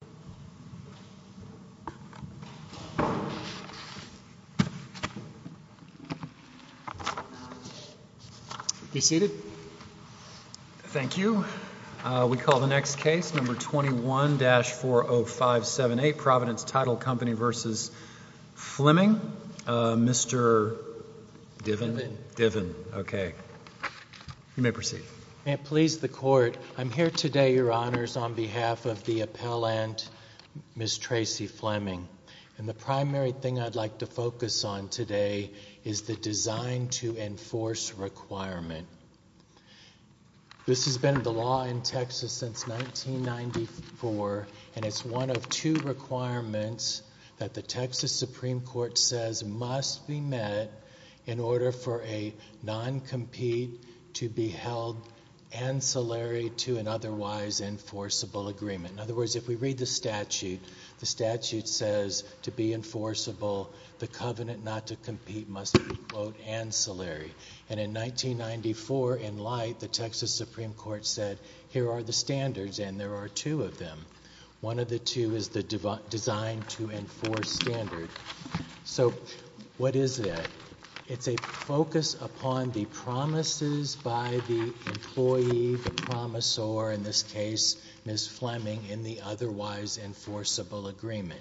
I am here today, Your Honors, on behalf of the Appellant Court of Appeals, to ask the Appellant, Ms. Tracey Fleming, and the primary thing I'd like to focus on today is the design to enforce requirement. This has been the law in Texas since 1994, and it's one of two requirements that the Texas Supreme Court says must be met in order for a non-compete to be held ancillary to an otherwise enforceable agreement. In other words, if we read the statute, the statute says, to be enforceable, the covenant not to compete must be, quote, ancillary. And in 1994, in light, the Texas Supreme Court said, here are the standards, and there are two of them. One of the two is the design to enforce standard. So what is that? It's a focus upon the promises by the employee, the promisor, in this case, Ms. Fleming, in the otherwise enforceable agreement.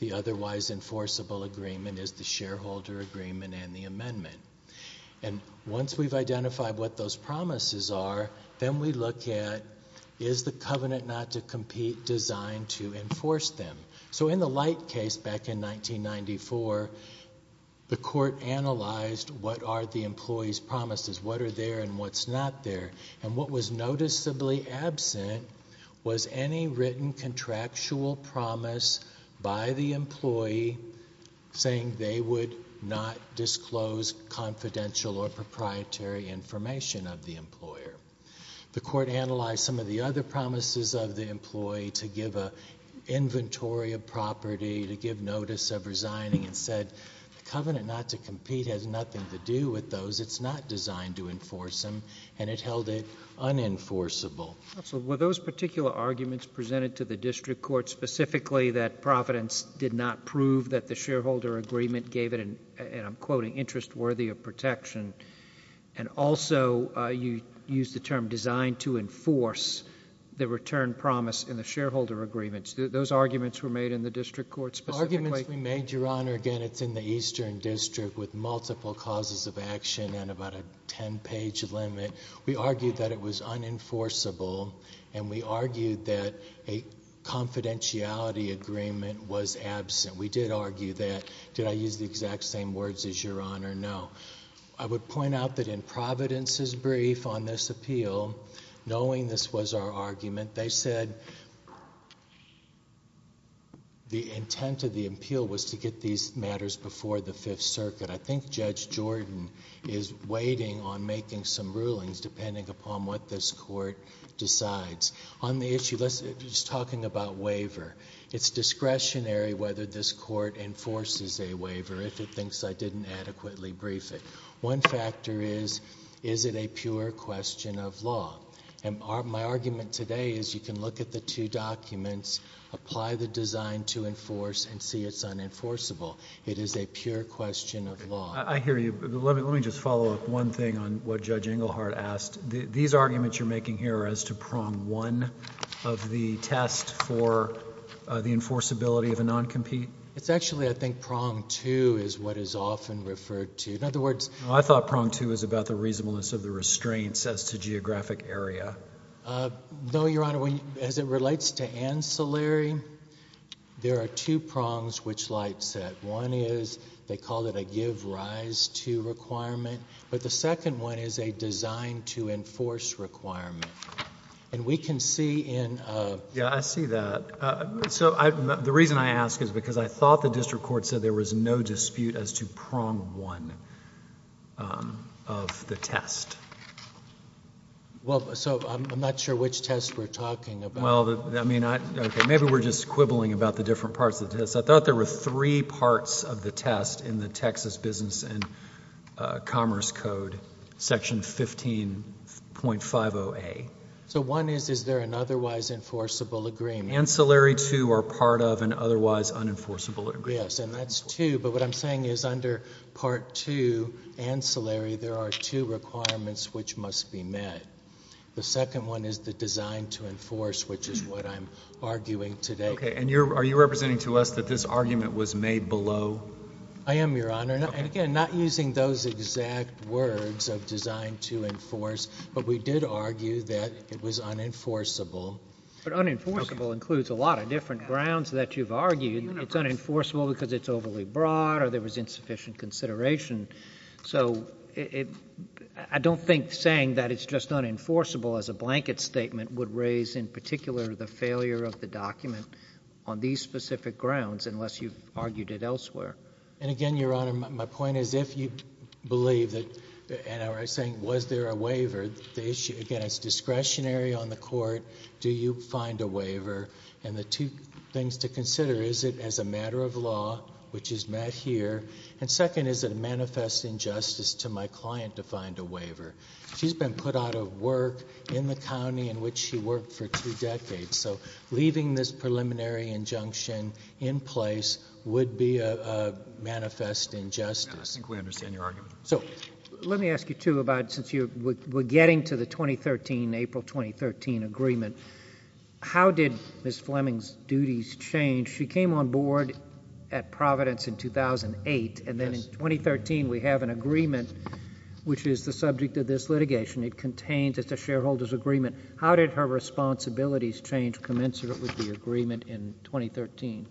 The otherwise enforceable agreement is the shareholder agreement and the amendment. And once we've identified what those promises are, then we look at, is the covenant not to compete designed to enforce them? So in the light case, back in 1994, the court analyzed what are the employee's promises, what are there, and what's not there. And what was noticeably absent was any written contractual promise by the employee saying they would not disclose confidential or proprietary information of the employer. The court analyzed some of the other promises of the employee to give an inventory of property, to give notice of resigning, and said, the covenant not to compete has nothing to do with those. It's not designed to enforce them. And it held it unenforceable. Absolutely. Were those particular arguments presented to the district court specifically that Providence did not prove that the shareholder agreement gave it an, and I'm quoting, interest worthy of protection? And also, you used the term designed to enforce the return promise in the shareholder agreements. Those arguments were made in the district court specifically? The arguments we made, Your Honor, again, it's in the Eastern District with multiple causes of action and about a ten page limit. We argued that it was unenforceable and we argued that a confidentiality agreement was absent. We did argue that. Did I use the exact same words as Your Honor? No. I would point out that in Providence's brief on this appeal, knowing this was our argument, they said the intent of the appeal was to get these matters before the Fifth Circuit. I think Judge Jordan is waiting on making some rulings depending upon what this court decides. On the issue, let's, just talking about waiver, it's discretionary whether this court enforces a waiver if it thinks I didn't adequately brief it. One factor is, is it a pure question of law? And my argument today is you can look at the two documents, apply the design to enforce, and see it's unenforceable. It is a pure question of law. I hear you. Let me just follow up one thing on what Judge Engelhardt asked. These arguments you're making here are as to prong one of the test for the enforceability of a non-compete? It's actually, I think, prong two is what is often referred to. In fact, prong two is about the reasonableness of the restraints as to geographic area. No, Your Honor. As it relates to ancillary, there are two prongs which light set. One is, they call it a give rise to requirement. But the second one is a design to enforce requirement. And we can see in a... Yeah, I see that. So, the reason I ask is because I thought the district court said there was no dispute as to prong one of the test. Well, so, I'm not sure which test we're talking about. Well, I mean, okay, maybe we're just quibbling about the different parts of the test. I thought there were three parts of the test in the Texas Business and Commerce Code, Section 15.50A. So, one is, is there an otherwise enforceable agreement? Ancillary two are part of an otherwise unenforceable agreement. Yes, and that's two. But what I'm saying is under part two, ancillary, there are two requirements which must be met. The second one is the design to enforce, which is what I'm arguing today. Okay. And you're, are you representing to us that this argument was made below? I am, Your Honor. And again, not using those exact words of design to enforce, but we did argue that it was unenforceable. But unenforceable includes a lot of different grounds that you've argued. It's unenforceable because it's overly broad or there was insufficient consideration. So, it, I don't think saying that it's just unenforceable as a blanket statement would raise in particular the failure of the document on these specific grounds unless you've argued it elsewhere. And again, Your Honor, my point is if you believe that and are saying, was there a waiver? The issue, again, it's discretionary on the court. Do you find a waiver? And the two things to consider, is it as a matter of law, which is met here? And second, is it a manifest injustice to my client to find a waiver? She's been put out of work in the county in which she worked for two decades. So, leaving this preliminary injunction in place would be a manifest injustice. I think we understand your argument. So, let me ask you, too, about since you were getting to the 2013, April 2013 agreement, how did Ms. Fleming's duties change? She came on board at Providence in 2008. And then in 2013, we have an agreement which is the subject of this litigation. It contains, it's a shareholder's agreement. How did her responsibilities change commensurate with the agreement in 2013?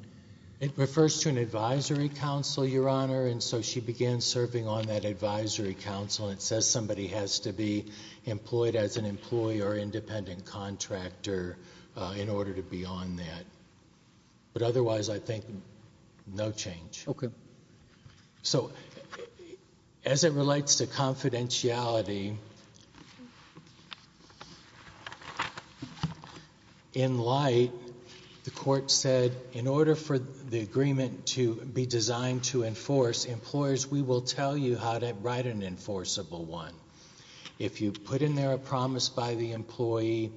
It refers to an advisory council, Your Honor. And so, she began serving on that advisory council and it says somebody has to be employed as an employee or independent contractor in order to be on that. But otherwise, I think no change. Okay. So, as it relates to confidentiality, in light, the court said, in order for the agreement to be designed to enforce employers, we will tell you how to write an enforceable one. If you put in there a promise by the employee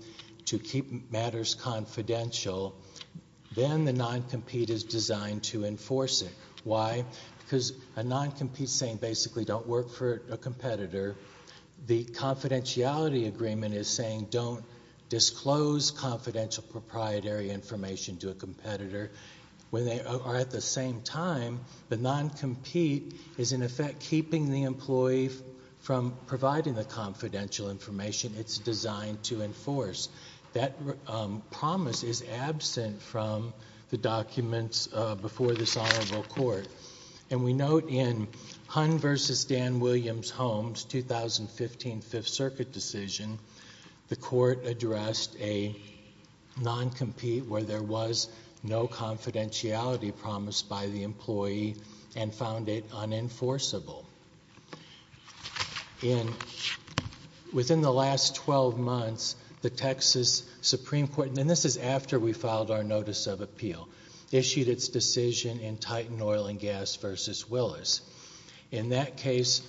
to keep matters confidential, then the non-compete is designed to enforce it. Why? Because a non-compete is saying basically don't work for a competitor. The confidentiality agreement is saying don't disclose confidential proprietary information to a competitor. When they are at the same time, the non-compete is in effect keeping the employee from providing the confidential information it's designed to enforce. That promise is absent from the documents before this honorable court. And we note in Hunn v. Dan Williams Holmes, 2015 Fifth Circuit decision, the court addressed a non-compete where there was no confidentiality promised by the employee and found it unenforceable. Within the last 12 months, the Texas Supreme Court, and this is after we filed our notice of appeal, issued its decision in Titan Oil and Gas v. Willis. In that case,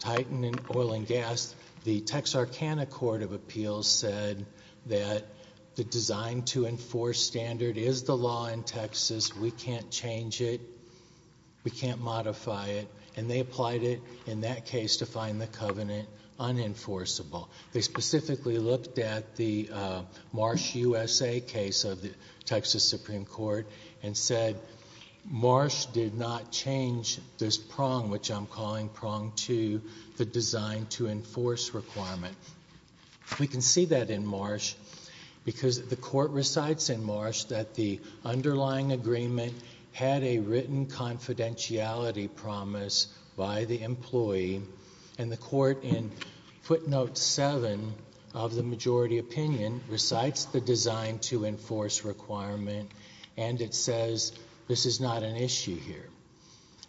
Titan Oil and Gas, the Texarkana Court of Appeals said that the design to enforce standard is the law in Texas. We can't change it. We can't modify it. And they applied it in that case to find the covenant unenforceable. They specifically looked at the Marsh U.S.A. case of the Texas Supreme Court and said Marsh did not change this prong, which I'm calling prong two, the design to enforce requirement. We can see that in Marsh because the court recites in Marsh that the underlying agreement had a majority opinion, recites the design to enforce requirement, and it says this is not an issue here.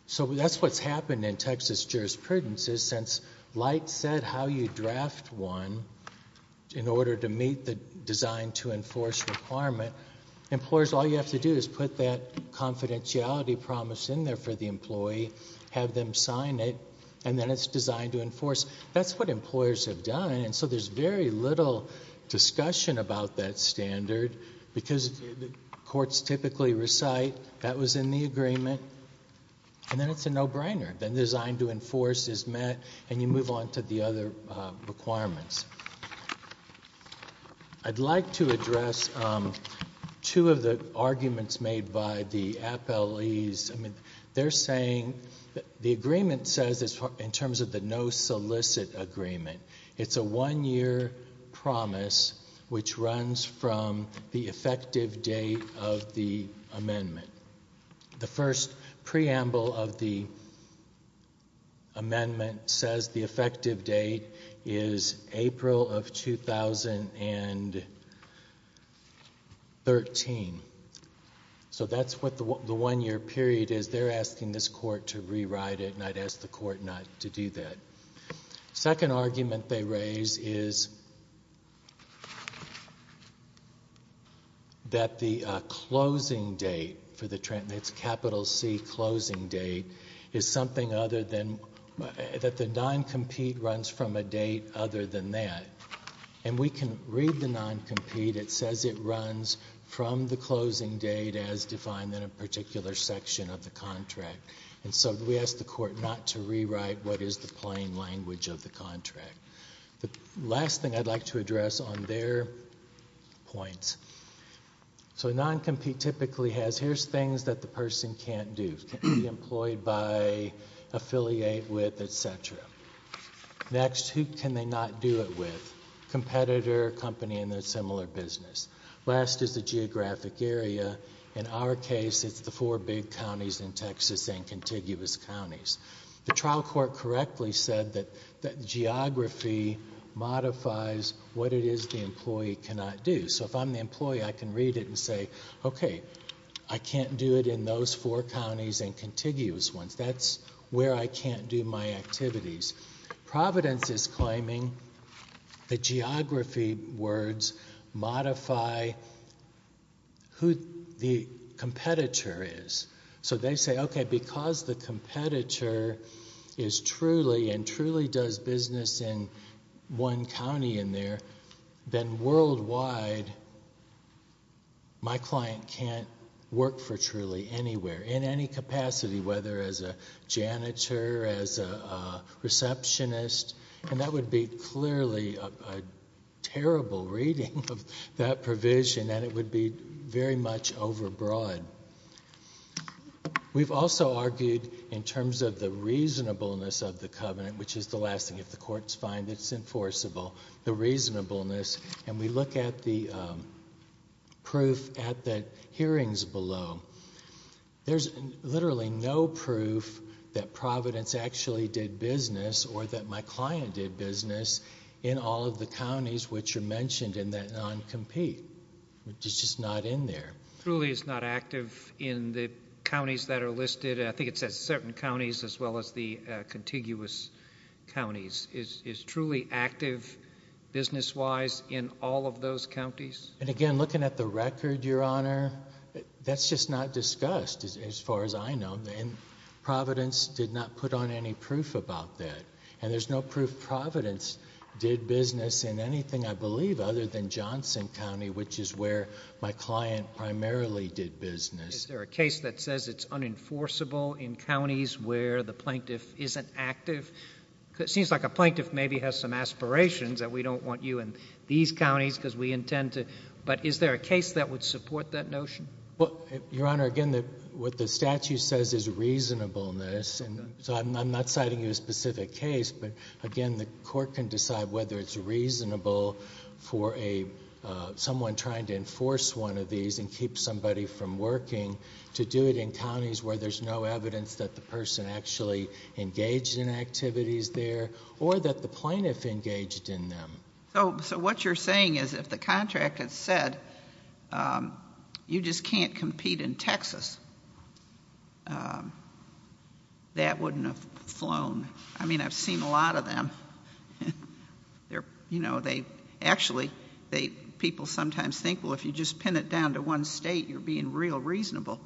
So that's what's happened in Texas jurisprudence is since Light said how you draft one in order to meet the design to enforce requirement, employers, all you have to do is put that confidentiality promise in there for the employee, have them sign it, and then it's designed to enforce. That's what employers have done, and so there's very little discussion about that standard because courts typically recite that was in the agreement, and then it's a no-brainer. The design to enforce is met, and you move on to the other requirements. I'd like to address two of the arguments made by the appellees. They're saying the agreement says in terms of the no-solicit agreement, it's a one-year promise which runs from the effective date of the amendment. The first preamble of the amendment says the effective date is April of 2013. So that's what the one-year period is. They're asking this court to rewrite it, and I'd ask the court not to do that. Second argument they raise is that the closing date for the, it's capital C closing date, is something other than, that the non-compete runs from a date other than that, and we can read the non-compete. It says it runs from the closing date as defined in a particular section of the contract, and so we ask the court not to rewrite what is the plain language of the contract. The last thing I'd like to address on their points, so a non-compete typically has, here's things that the person can't do. Can't be employed by, affiliate with, et cetera. Next, who can they not do it with? Competitor, company in a similar business. Last is the geographic area. In our case, it's the four big counties in Texas and contiguous counties. The trial court correctly said that geography modifies what it is the employee cannot do. So if I'm the employee, I can read it and say, okay, I can't do it in those four counties and contiguous ones. That's where I can't do my activities. Providence is claiming that geography words modify who the competitor is. So they say, okay, because the competitor is truly and truly does business in one county in there, then worldwide my client can't work for truly anywhere in any capacity, whether as a janitor, as a receptionist, and that would be clearly a terrible reading of that provision, and it would be very much overbroad. We've also argued in terms of the reasonableness of the covenant, which is the last thing, if the court's fine, it's enforceable, the reasonableness, and we look at the proof at the hearings below. There's literally no proof that Providence actually did business or that my client did all of the counties which are mentioned in that non-compete. It's just not in there. Truly is not active in the counties that are listed. I think it's at certain counties as well as the contiguous counties. Is truly active business-wise in all of those counties? And again, looking at the record, Your Honor, that's just not discussed as far as I know. And Providence did not put on any proof about that, and there's no proof Providence did business in anything, I believe, other than Johnson County, which is where my client primarily did business. Is there a case that says it's unenforceable in counties where the plaintiff isn't active? It seems like a plaintiff maybe has some aspirations that we don't want you in these counties because we intend to, but is there a case that would use reasonableness? So I'm not citing you a specific case, but again, the court can decide whether it's reasonable for someone trying to enforce one of these and keep somebody from working to do it in counties where there's no evidence that the person actually engaged in activities there or that the plaintiff engaged in them. So what you're saying is if the contract had said you just can't compete in Texas, that wouldn't have flown. I mean, I've seen a lot of them. Actually, people sometimes think, well, if you just pin it down to one state, you're being real reasonable.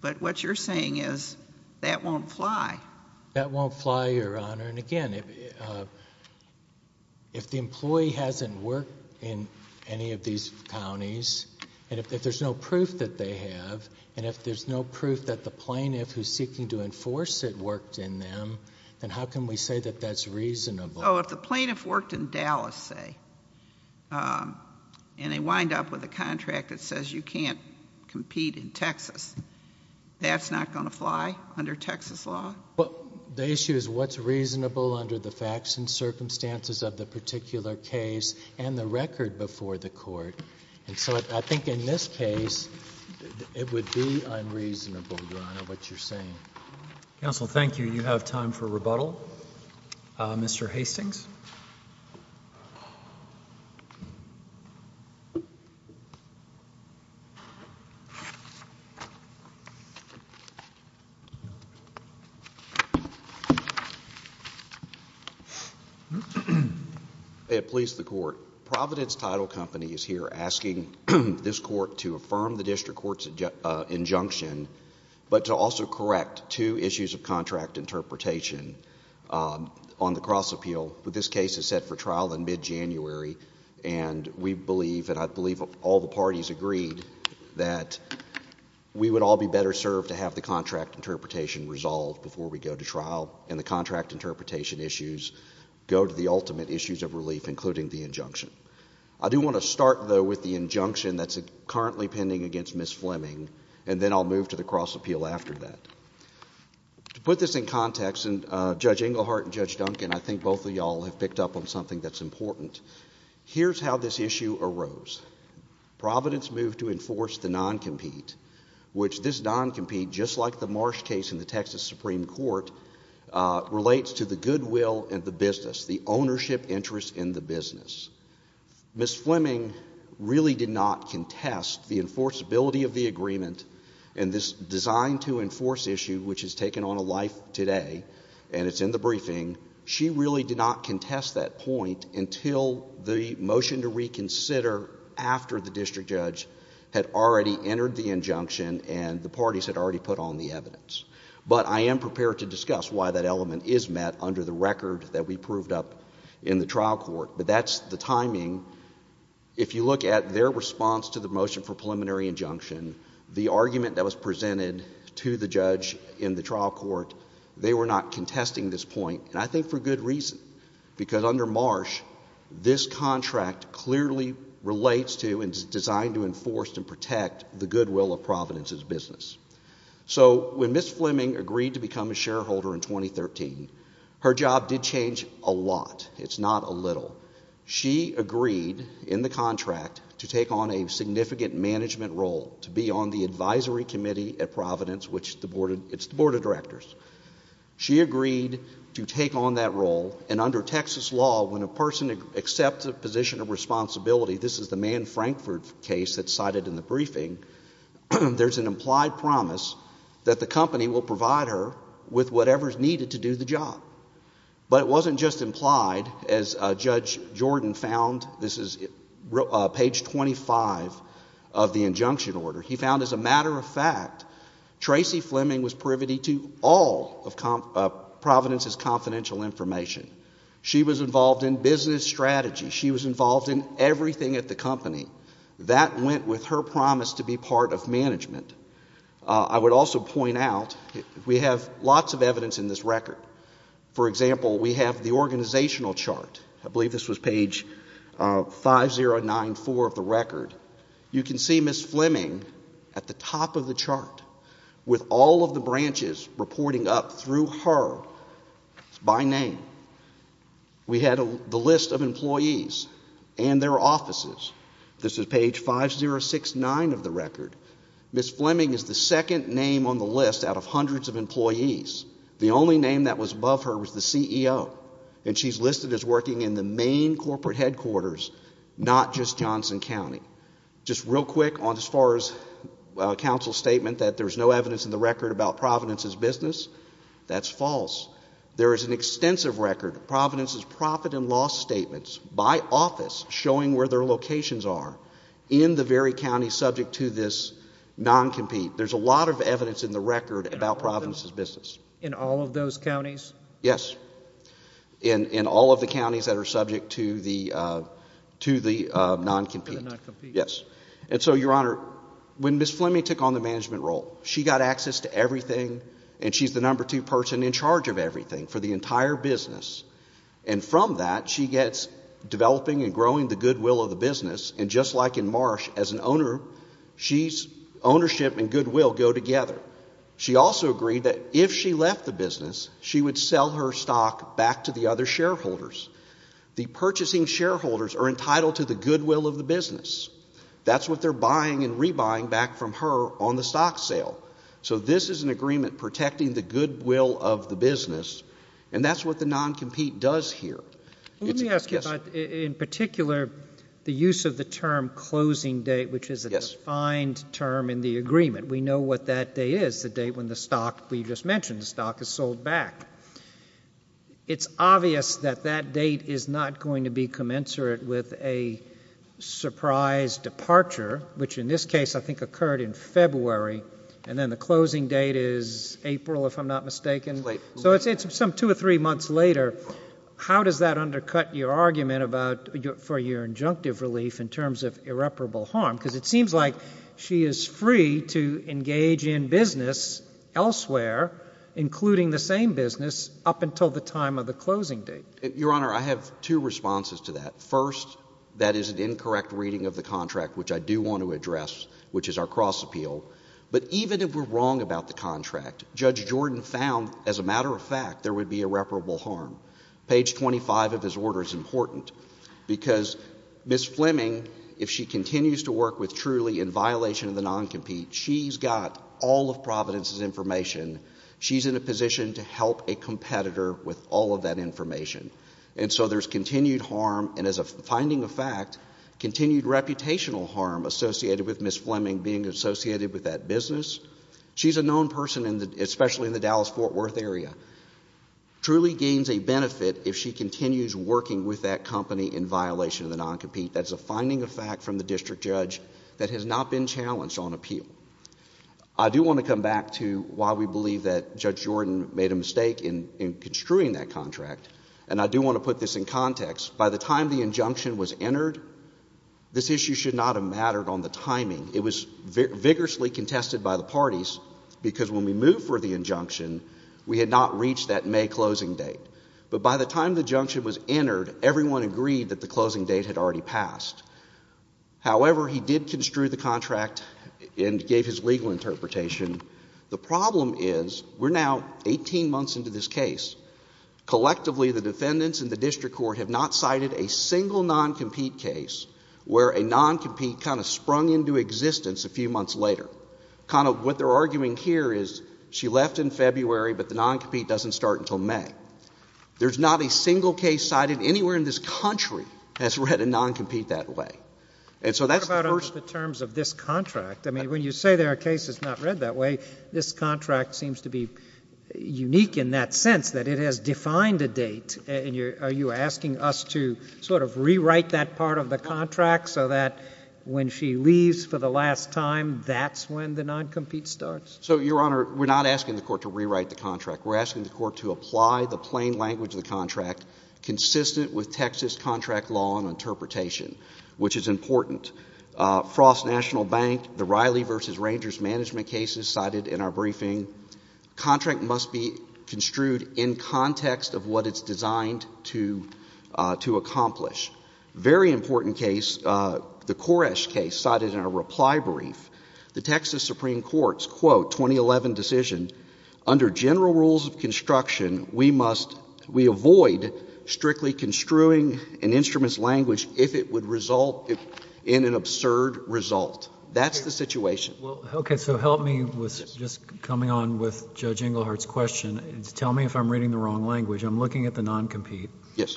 But what you're saying is that won't fly. That won't fly, Your Honor. And again, if the employee hasn't worked in any of these counties, and if there's no proof that they have, and if there's no proof that the plaintiff who's seeking to enforce it worked in them, then how can we say that that's reasonable? Oh, if the plaintiff worked in Dallas, say, and they wind up with a contract that says you can't compete in Texas, that's not going to fly under Texas law? Well, the issue is what's reasonable under the facts and circumstances of the particular case and the record before the court. And so I think in this case, it would be unreasonable, Your Honor, what you're saying. Counsel, thank you. You have time for rebuttal. Mr. Hastings. May it please the Court. Providence Title Company is here asking this court to affirm the district court's injunction, but to also correct two issues of contract interpretation on the cross-appeal. This case is set for trial in mid-January, and we believe, and I believe all the parties agreed, that we would all be better served to have the contract interpretation resolved before we go to trial, and the contract interpretation issues go to the ultimate issues of relief, including the injunction. I do want to start, though, with the injunction that's currently pending against Ms. Fleming, and then I'll move to the cross-appeal after that. To put this in context, and Judge Englehart and Judge Duncan, I think both of y'all have picked up on something that's important. Here's how this issue arose. Providence moved to enforce the non-compete, which this non-compete, just like the Marsh case in the Texas Supreme Court, relates to the goodwill and the business, the ownership and interest in the business. Ms. Fleming really did not contest the enforceability of the agreement, and this design-to-enforce issue, which has taken on a life today, and it's in the briefing, she really did not contest that point until the motion to reconsider after the district judge had already entered the injunction and the parties had already put on the evidence. But I am prepared to discuss why that element is met under the trial court, but that's the timing. If you look at their response to the motion for preliminary injunction, the argument that was presented to the judge in the trial court, they were not contesting this point, and I think for good reason, because under Marsh, this contract clearly relates to and is designed to enforce and protect the goodwill of Providence's business. So when Ms. Fleming agreed to become a shareholder in 2013, her job did change a lot. It's not a little. She agreed in the contract to take on a significant management role, to be on the advisory committee at Providence, which is the board of directors. She agreed to take on that role, and under Texas law, when a person accepts a position of responsibility, this is the Mann-Frankford case that's cited in the briefing, there's an implied promise that the company will provide her with whatever's needed to do the job. But it wasn't just implied as Judge Jordan found. This is page 25 of the injunction order. He found, as a matter of fact, Tracey Fleming was privy to all of Providence's confidential information. She was involved in business strategy. She was involved in everything at the company. That went with her promise to be part of management. I would also point out, we have lots of evidence in this record. For example, we have the organizational chart. I believe this was page 5094 of the record. You can see Ms. Fleming at the top of the chart with all of the branches reporting up through her by name. We had the list of employees and their offices. This is page 5069 of the record. Ms. Fleming is the second name on the list out of hundreds of employees. The only name that was above her was the CEO. And she's listed as working in the main corporate headquarters, not just Johnson County. Just real quick on as far as counsel's statement that there's no evidence in the record about Providence's business, that's false. There is an extensive record of Providence's profit and loss statements by office showing where their locations are in the very county subject to this non-compete. There's a lot of evidence in the record about Providence's business. In all of those counties? Yes. In all of the counties that are subject to the non-compete. To the non-compete. Yes. And so, Your Honor, when Ms. Fleming took on the management role, she got access to everything and she's the number two person in charge of everything for the entire business. And from that, she gets developing and growing the goodwill of the business. And just like in Marsh, as an owner, she's ownership and goodwill go together. She also agreed that if she left the business, she would sell her stock back to the other shareholders. The purchasing shareholders are entitled to the goodwill of the business. That's what they're buying and rebuying back from her on the stock sale. So this is an agreement protecting the goodwill of the business. And that's what the non-compete does here. Let me ask you about, in particular, the use of the term closing date, which is a defined term in the agreement. We know what that date is, the date when the stock we just mentioned, the stock is sold back. It's obvious that that date is not going to be commensurate with a surprise departure, which in this case I think occurred in February, and then the closing date is April, if I'm not mistaken. Late. So it's some two or three months later. How does that undercut your argument for your injunctive relief in terms of irreparable harm? Because it seems like she is free to engage in business elsewhere, including the same business, up until the time of the closing date. Your Honor, I have two responses to that. First, that is an incorrect reading of the contract, which I do want to address, which is our cross-appeal. But even if we're wrong about the contract, Judge Jordan found, as a matter of fact, there would be irreparable harm. Page 25 of his order is important, because Ms. Fleming, if she continues to work with Truly in violation of the non-compete, she's got all of Providence's information. She's in a position to help a competitor with all of that information. And so there's continued harm, and as a finding of fact, continued reputational harm associated with Ms. Fleming being associated with that business, she's a known person, especially in the Dallas-Fort Worth area. Truly gains a benefit if she continues working with that company in violation of the non-compete. That's a finding of fact from the district judge that has not been challenged on appeal. I do want to come back to why we believe that Judge Jordan made a mistake in construing that contract, and I do want to put this in context. By the time the injunction was entered, this issue should not have mattered on the timing. It was vigorously contested by the parties, because when we moved for the injunction, we had not reached that May closing date. But by the time the injunction was entered, everyone agreed that the closing date had already passed. However, he did construe the contract and gave his legal interpretation. The problem is, we're now 18 months into this case. Collectively, the defendants and the non-compete kind of sprung into existence a few months later. Kind of what they're arguing here is, she left in February, but the non-compete doesn't start until May. There's not a single case cited anywhere in this country that's read a non-compete that way. And so that's the first— What about under the terms of this contract? I mean, when you say there are cases not read that way, this contract seems to be unique in that sense, that it has defined a date, and are you asking us to sort of rewrite that part of the contract so that when she leaves for the last time, that's when the non-compete starts? So, Your Honor, we're not asking the Court to rewrite the contract. We're asking the Court to apply the plain language of the contract consistent with Texas contract law and interpretation, which is important. Frost National Bank, the Riley v. Rangers management cases cited in our briefing, contract must be construed in context of what it's designed to accomplish. Very important case, the Koresh case cited in our reply brief, the Texas Supreme Court's quote, 2011 decision, under general rules of construction, we must — we avoid strictly construing an instrument's language if it would result in an absurd result. That's the situation. Well, okay, so help me with just coming on with Judge Englehart's question. Tell me if I'm reading the wrong language. I'm looking at the non-compete. Yes.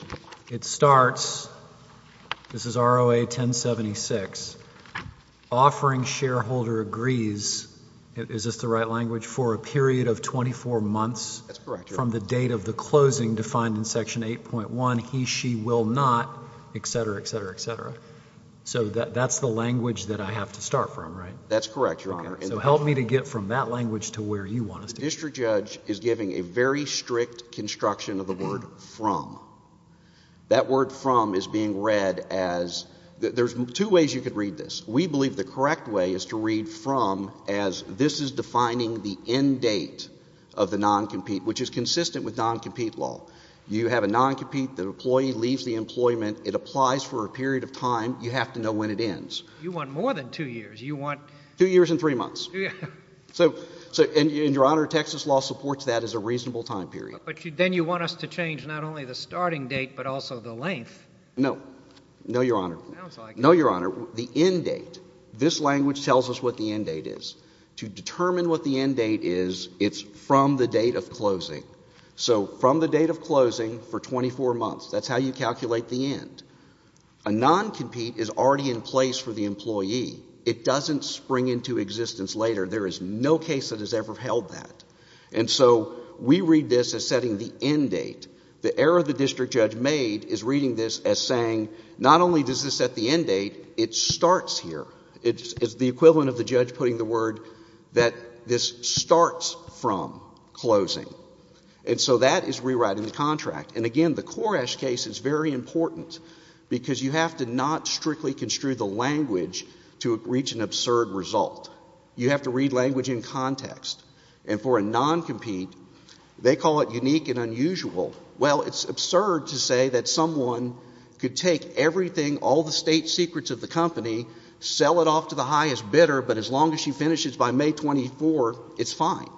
It starts, this is ROA 1076, offering shareholder agrees, is this the right language, for a period of 24 months — That's correct, Your Honor. — from the date of the closing defined in Section 8.1, he, she, will not, et cetera, et cetera, et cetera. So that's the language that I have to start from, right? That's correct, Your Honor. So help me to get from that language to where you want us to go. District Judge is giving a very strict construction of the word from. That word from is being read as — there's two ways you could read this. We believe the correct way is to read from as this is defining the end date of the non-compete, which is consistent with non-compete law. You have a non-compete, the employee leaves the employment, it applies for a period of time, you have to know when it ends. You want more than two years. You want — Two years and three months. So — and, Your Honor, Texas law supports that as a reasonable time period. But then you want us to change not only the starting date, but also the length. No. No, Your Honor. I don't like it. No, Your Honor. The end date, this language tells us what the end date is. To determine what the end date is, it's from the date of closing. So from the date of closing for the employee. It doesn't spring into existence later. There is no case that has ever held that. And so we read this as setting the end date. The error the district judge made is reading this as saying, not only does this set the end date, it starts here. It's the equivalent of the judge putting the word that this starts from closing. And so that is rewriting the contract. And again, the Koresh case is very important because you have to not strictly construe the language to reach an absurd result. You have to read language in context. And for a non-compete, they call it unique and unusual. Well, it's absurd to say that someone could take everything, all the state secrets of the company, sell it off to the highest bidder, but as long as she finishes by May 24th, it's fine.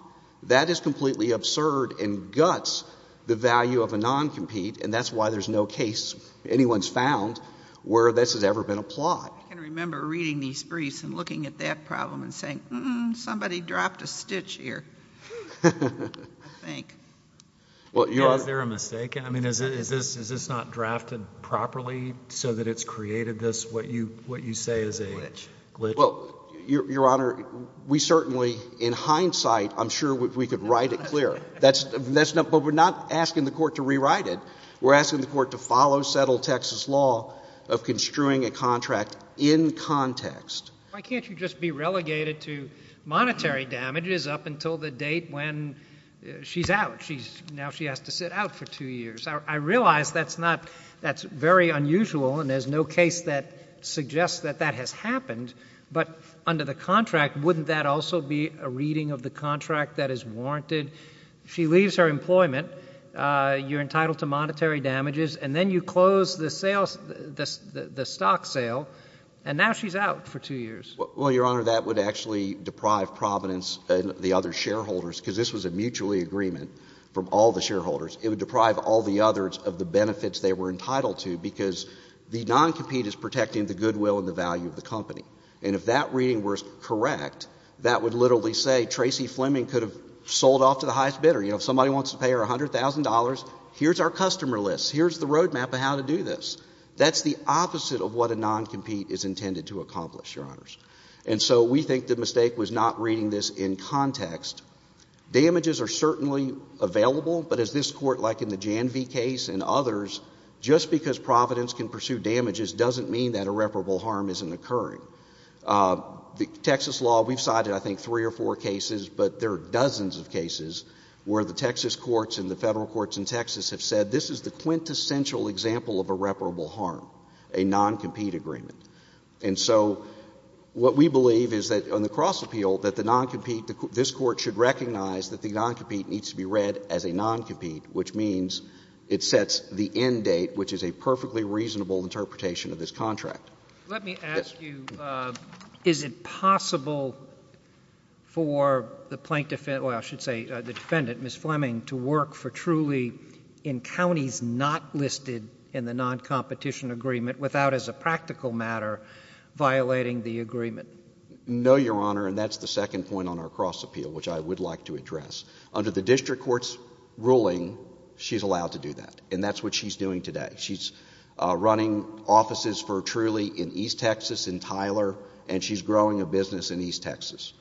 That is completely absurd and guts the value of a non-compete, and that's why there's no case anyone's found where this has ever been applied. I can remember reading these briefs and looking at that problem and saying, somebody dropped a stitch here, I think. Well, Your Honor — Was there a mistake? I mean, is this not drafted properly so that it's created this, what you say is a glitch? Well, Your Honor, we certainly, in hindsight, I'm sure we could write it clear. But we're not asking the court to rewrite it. We're asking the court to follow settled Texas law of construing a contract in context. Why can't you just be relegated to monetary damages up until the date when she's out? Now she has to sit out for two years. I realize that's very unusual, and there's no case that suggests that that has happened. But under the contract, wouldn't that also be a reading of the contract that is warranted? If she leaves her employment, you're entitled to monetary damages, and then you close the stock sale, and now she's out for two years. Well, Your Honor, that would actually deprive Providence and the other shareholders, because this was a mutually agreement from all the shareholders. It would deprive all the others of the benefits they were entitled to, because the non-compete is protecting the goodwill and the value of the company. And if that reading were correct, that would literally say Tracey Fleming could have sold off to the highest bidder. You know, if somebody wants to pay her $100,000, here's our customer list. Here's the roadmap of how to do this. That's the opposite of what a non-compete is intended to accomplish, Your Honors. And so we think the mistake was not reading this in context. Damages are certainly available, but as this Court, like in the Janvey case and others, just because Providence can pursue damages doesn't mean that irreparable harm isn't occurring. The Texas law, we've cited, I think, three or four cases, but there are dozens of cases where the Texas courts and the Federal courts in Texas have said this is the quintessential example of irreparable harm, a non-compete agreement. And so what we believe is that on the cross-appeal, that the non-compete, this Court should recognize that the non-compete needs to be read as a Let me ask you, is it possible for the plaintiff, well, I should say the defendant, Ms. Fleming, to work for truly in counties not listed in the non-competition agreement without, as a practical matter, violating the agreement? No, Your Honor, and that's the second point on our cross-appeal, which I would like to address. Under the district court's ruling, she's allowed to do that, and that's what she's doing today. She's running offices for truly in East Texas, in Tyler, and she's growing a business in East Texas.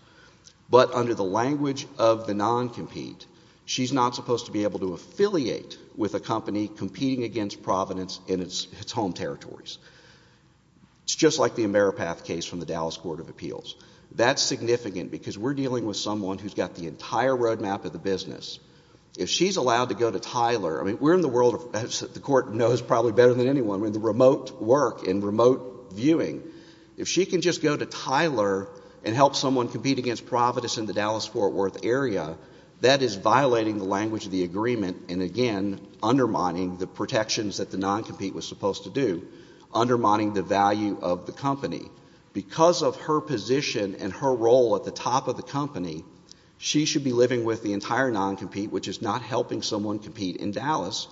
But under the language of the non-compete, she's not supposed to be able to affiliate with a company competing against Providence in its home territories. It's just like the Ameripath case from the Dallas Court of Appeals. That's significant because we're dealing with someone who's got the entire road map of the business. If she's allowed to go to Tyler, I mean, we're in the world, as the Court knows probably better than anyone, I mean, the remote work and remote viewing. If she can just go to Tyler and help someone compete against Providence in the Dallas-Fort Worth area, that is violating the language of the agreement and, again, undermining the protections that the non-compete was supposed to do, undermining the value of the company. Because of her position and her role at the top of the company, she should be living with the entire non-compete, which is not helping someone compete in Dallas.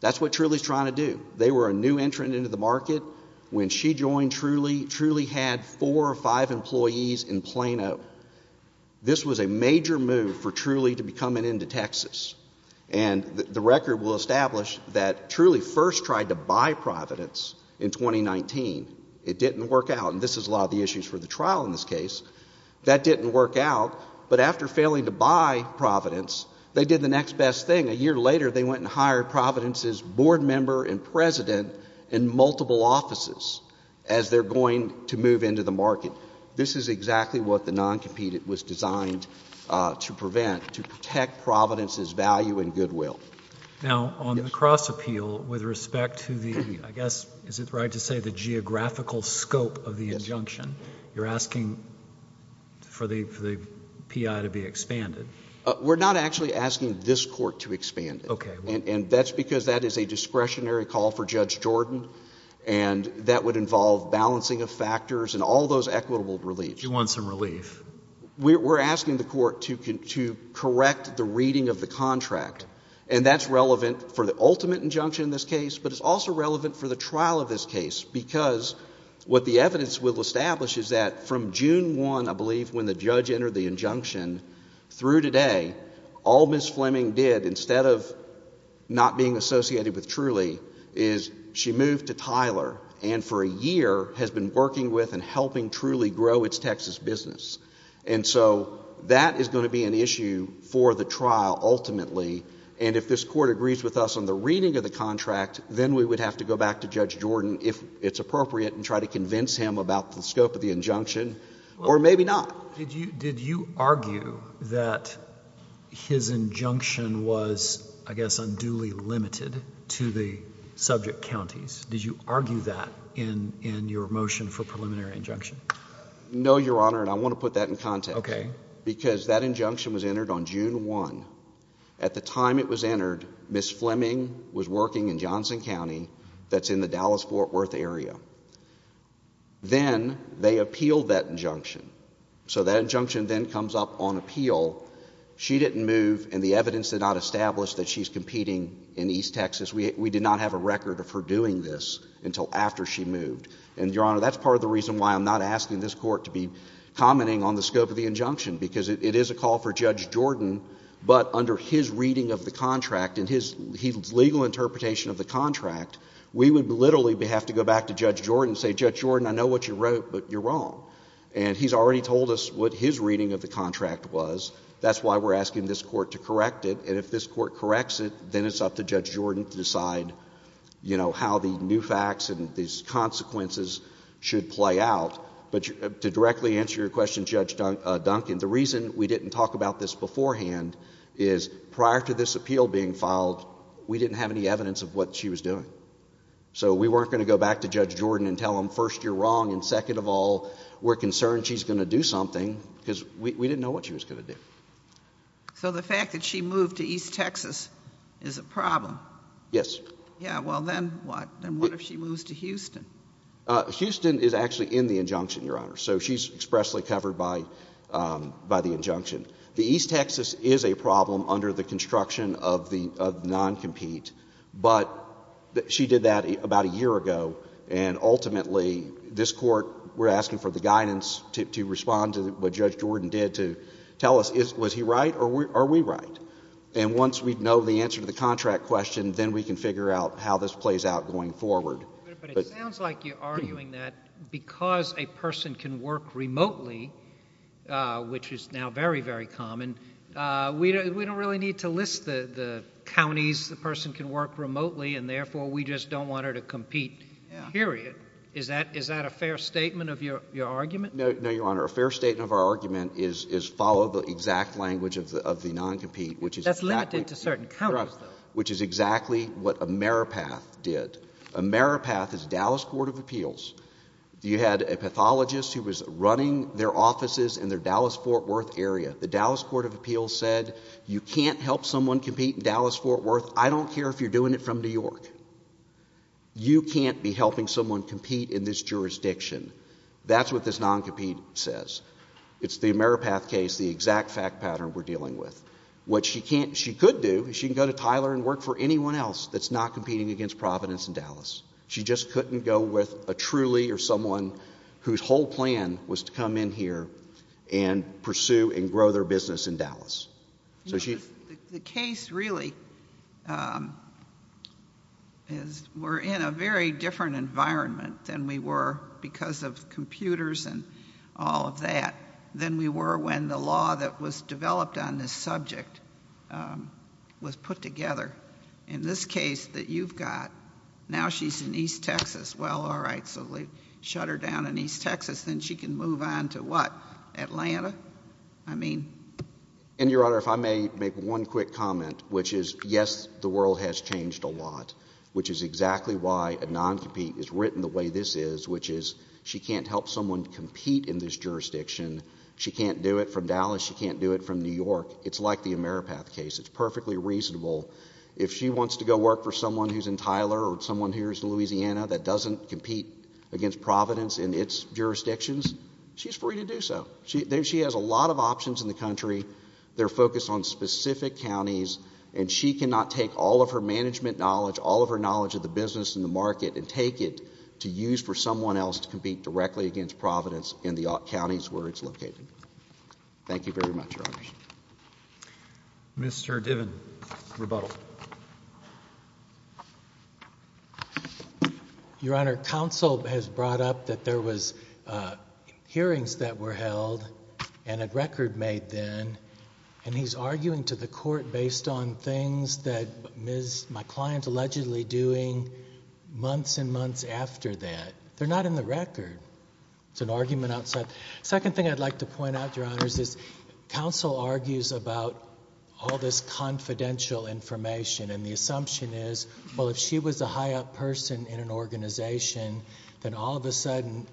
That's what Trulie's trying to do. They were a new entrant into the market. When she joined Trulie, Trulie had four or five employees in Plano. This was a major move for Trulie to be coming into Texas. And the record will establish that Trulie first tried to buy Providence in 2019. It didn't work out. And this is a lot of the issues for the trial in this case. That didn't work out. But after failing to buy Providence, they did the next best thing. A year later, they went and hired Providence's board member and president in multiple offices as they're going to move into the market. This is exactly what the non-compete was designed to prevent, to protect Providence's value and goodwill. Now, on the cross-appeal, with respect to the, I guess, is it right to say the geographical scope of the injunction, you're asking for the PI to be expanded? We're not actually asking this court to expand it. Okay. And that's because that is a discretionary call for Judge Jordan, and that would involve balancing of factors and all those equitable reliefs. You want some relief. We're asking the court to correct the reading of the contract. And that's relevant for the What the evidence will establish is that from June 1, I believe, when the judge entered the injunction, through today, all Ms. Fleming did, instead of not being associated with Trulie, is she moved to Tyler and for a year has been working with and helping Trulie grow its Texas business. And so that is going to be an issue for the trial, ultimately. And if this court agrees with us on the reading of the contract, then we would have to go back to Judge Jordan, if it's appropriate, and try to convince him about the scope of the injunction, or maybe not. Did you argue that his injunction was, I guess, unduly limited to the subject counties? Did you argue that in your motion for preliminary injunction? No, Your Honor, and I want to put that in context. Okay. Because that injunction was entered on June 1. At the time it was entered, Ms. Fleming was working in Johnson County, that's in the Dallas-Fort Worth area. Then they appealed that injunction. So that injunction then comes up on appeal. She didn't move, and the evidence did not establish that she's competing in East Texas. We did not have a record of her doing this until after she moved. And Your Honor, that's part of the reason why I'm not asking this court to be commenting on the scope of the injunction, because it is a call for Judge Jordan, but under his reading of the contract, and his legal interpretation of the contract, we would literally have to go back to Judge Jordan and say, Judge Jordan, I know what you wrote, but you're wrong. And he's already told us what his reading of the contract was. That's why we're asking this court to correct it. And if this court corrects it, then it's up to Judge Jordan to decide, you know, how the new facts and these consequences should play out. But to directly answer your question, Judge Duncan, the reason we didn't talk about this beforehand is, prior to this appeal being filed, we didn't have any evidence of what she was doing. So we weren't going to go back to Judge Jordan and tell him, first, you're wrong, and second of all, we're concerned she's going to do something, because we didn't know what she was going to do. So the fact that she moved to East Texas is a problem? Yes. Yeah, well, then what? Then what if she moves to Houston? Houston is actually in the injunction, Your Honor. So she's expressly covered by the injunction. The East Texas is a problem under the construction of the non-compete, but she did that about a year ago. And ultimately, this court, we're asking for the guidance to respond to what Judge Jordan did to tell us, was he right or are we right? And once we know the answer to the contract question, then we can figure out how this plays out going forward. But it sounds like you're arguing that because a person can work remotely, which is now very, very common, we don't really need to list the counties the person can work remotely and therefore we just don't want her to compete, period. Is that a fair statement of your argument? No, Your Honor. A fair statement of our argument is follow the exact language of the non-compete, which is exactly— That's limited to certain counties, though. Which is exactly what Ameripath did. Ameripath is Dallas Court of Appeals. You had a pathologist who was running their offices in their Dallas-Fort Worth area. The Dallas Court of Appeals said, you can't help someone compete in Dallas-Fort Worth. I don't care if you're doing it from New York. You can't be helping someone compete in this jurisdiction. That's what this non-compete says. It's the Ameripath case, the exact fact pattern we're dealing with. What she could do is she can go to Tyler and work for anyone else that's not competing against Providence in Dallas. She just couldn't go with a Trulie or someone whose whole plan was to come in here and pursue and grow their business in Dallas. The case really is we're in a very different environment than we were because of computers and all of that than we were when the law that was developed on this subject was put together. In this case that you've got, now she's in East Texas. Well, all right, so they shut her down in East Texas. Then she can move on to what? Atlanta? I mean? And Your Honor, if I may make one quick comment, which is yes, the world has changed a lot. Which is exactly why a non-compete is written the way this is, which is she can't help someone compete in this jurisdiction. She can't do it from Dallas. She can't do it from New York. It's like the Ameripath case. It's perfectly reasonable. If she wants to go work for someone who's in Tyler or someone who's in Louisiana that doesn't compete against Providence in its jurisdictions, she's free to do so. She has a lot of options in the country. They're focused on specific counties and she cannot take all of her management knowledge, all of her knowledge of the business and the market and take it to use for someone else to compete directly against Providence in the counties where it's located. Thank you very much, Your Honor. Mr. Diven, rebuttal. Your Honor, counsel has brought up that there was hearings that were held and a record made then and he's arguing to the court based on things that my client allegedly doing months and months after that. They're not in the record. It's an argument outside. Second thing I'd like to point out, Your Honors, is counsel argues about all this confidential information and the assumption is, well, if she was a high up person in an organization, then all of a sudden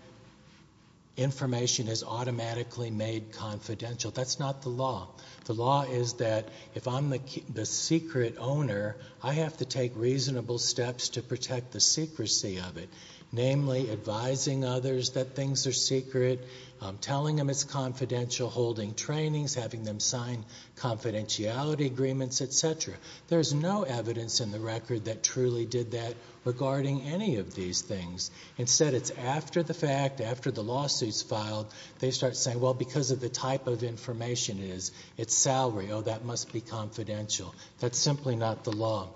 information is automatically made confidential. That's not the law. The law is that if I'm the secret owner, I have to take reasonable steps to protect the secrecy of it, namely advising others that things are secret, telling them it's confidential, holding trainings, having them sign confidentiality agreements, et cetera. There's no evidence in the record that truly did that regarding any of these things. Instead, it's after the fact, after the lawsuit's filed, they start saying, well, because of the type of information it is, it's salary, oh, that must be confidential. That's simply not the law.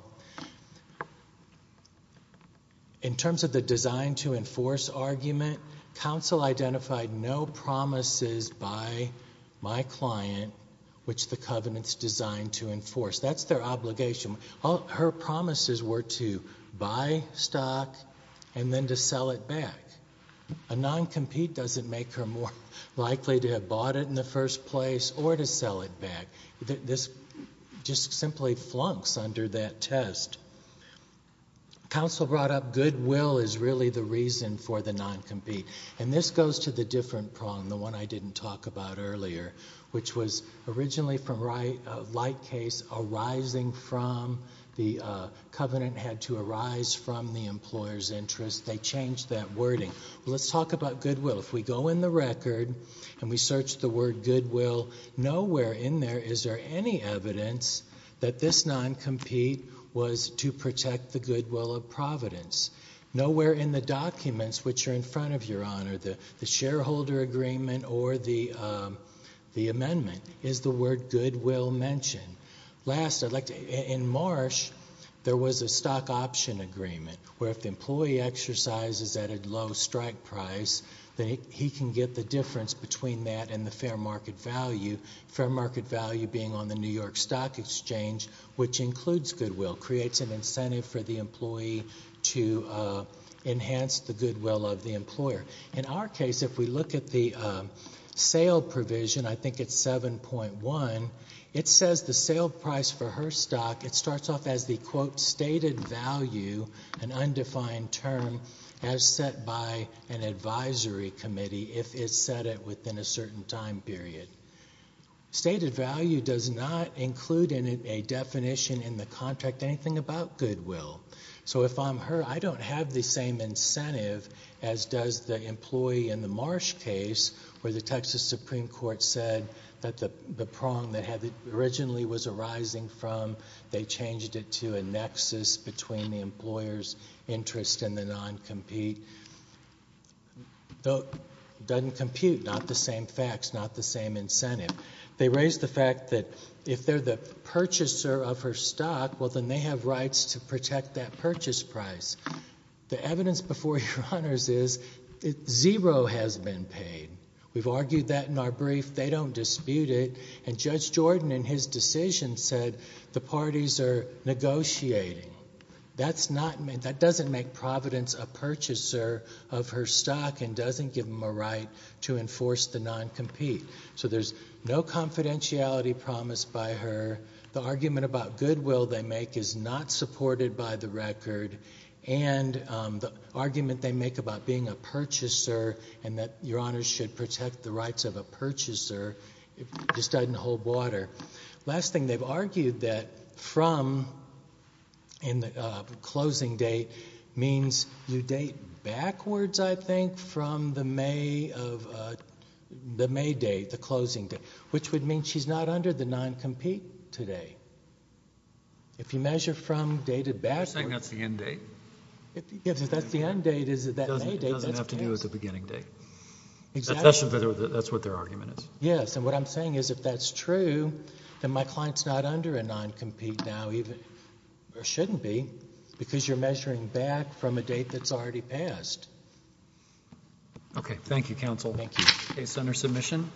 In terms of the design to enforce argument, counsel identified no promises by my client which the covenant's designed to enforce. That's their obligation. Her promises were to buy stock and then to sell it back. A non-compete doesn't make her more likely to have bought it in the first place or to sell it back. This just simply flunks under that test. Counsel brought up goodwill is really the reason for the non-compete. And this goes to the different problem, the one I didn't talk about earlier, which was originally from a light case arising from the covenant had to arise from the employer's interest. They changed that wording. Let's talk about goodwill. If we go in the record and we searched the word goodwill, nowhere in there is there any evidence that this non-compete was to protect the goodwill of Providence. Nowhere in the documents which are in front of you, Your Honor, the shareholder agreement or the amendment, is the word goodwill mentioned. Last, in Marsh, there was a stock option agreement where if the employee exercises at a low strike price, that he can get the difference between that and the fair market value, fair market value being on the New York Stock Exchange, which includes goodwill, creates an incentive for the employee to enhance the goodwill of the employer. In our case, if we look at the sale provision, I think it's 7.1, it says the sale price for her stock, it starts off as the, quote, stated value, an undefined term, as set by an advisory committee if it's set at within a certain time period. Stated value does not include in it a definition in the contract anything about goodwill. So if I'm her, I don't have the same incentive as does the employee in the Marsh case where the Texas Supreme Court said that the prong that it originally was arising from, they changed it to a nexus between the employer's interest and the non-compete. Doesn't compute, not the same facts, not the same incentive. They raised the fact that if they're the purchaser of her stock, well, then they have rights to protect that purchase price. The evidence before you, Your Honors, is zero has been paid. We've argued that in our brief. They don't dispute it. And Judge Jordan in his decision said the parties are negotiating. That doesn't make Providence a purchaser of her stock and doesn't give them a right to enforce the non-compete. So there's no confidentiality promised by her. The argument about goodwill they make is not supported by the record. And the argument they make about being a purchaser and that Your Honors should protect the rights of a purchaser just doesn't hold water. Last thing, they've argued that from in the closing date means you date backwards, I think, from the May of, the May date, the closing date, which would mean she's not under the non-compete today. If you measure from dated backwards. Are you saying that's the end date? If that's the end date, is it that May date? It doesn't have to do with the beginning date. Exactly. That's what their argument is. Yes. And what I'm saying is if that's true, then my client's not under a non-compete now, even, or shouldn't be, because you're measuring back from a date that's already passed. Okay. Thank you, counsel. Thank you. Case under submission.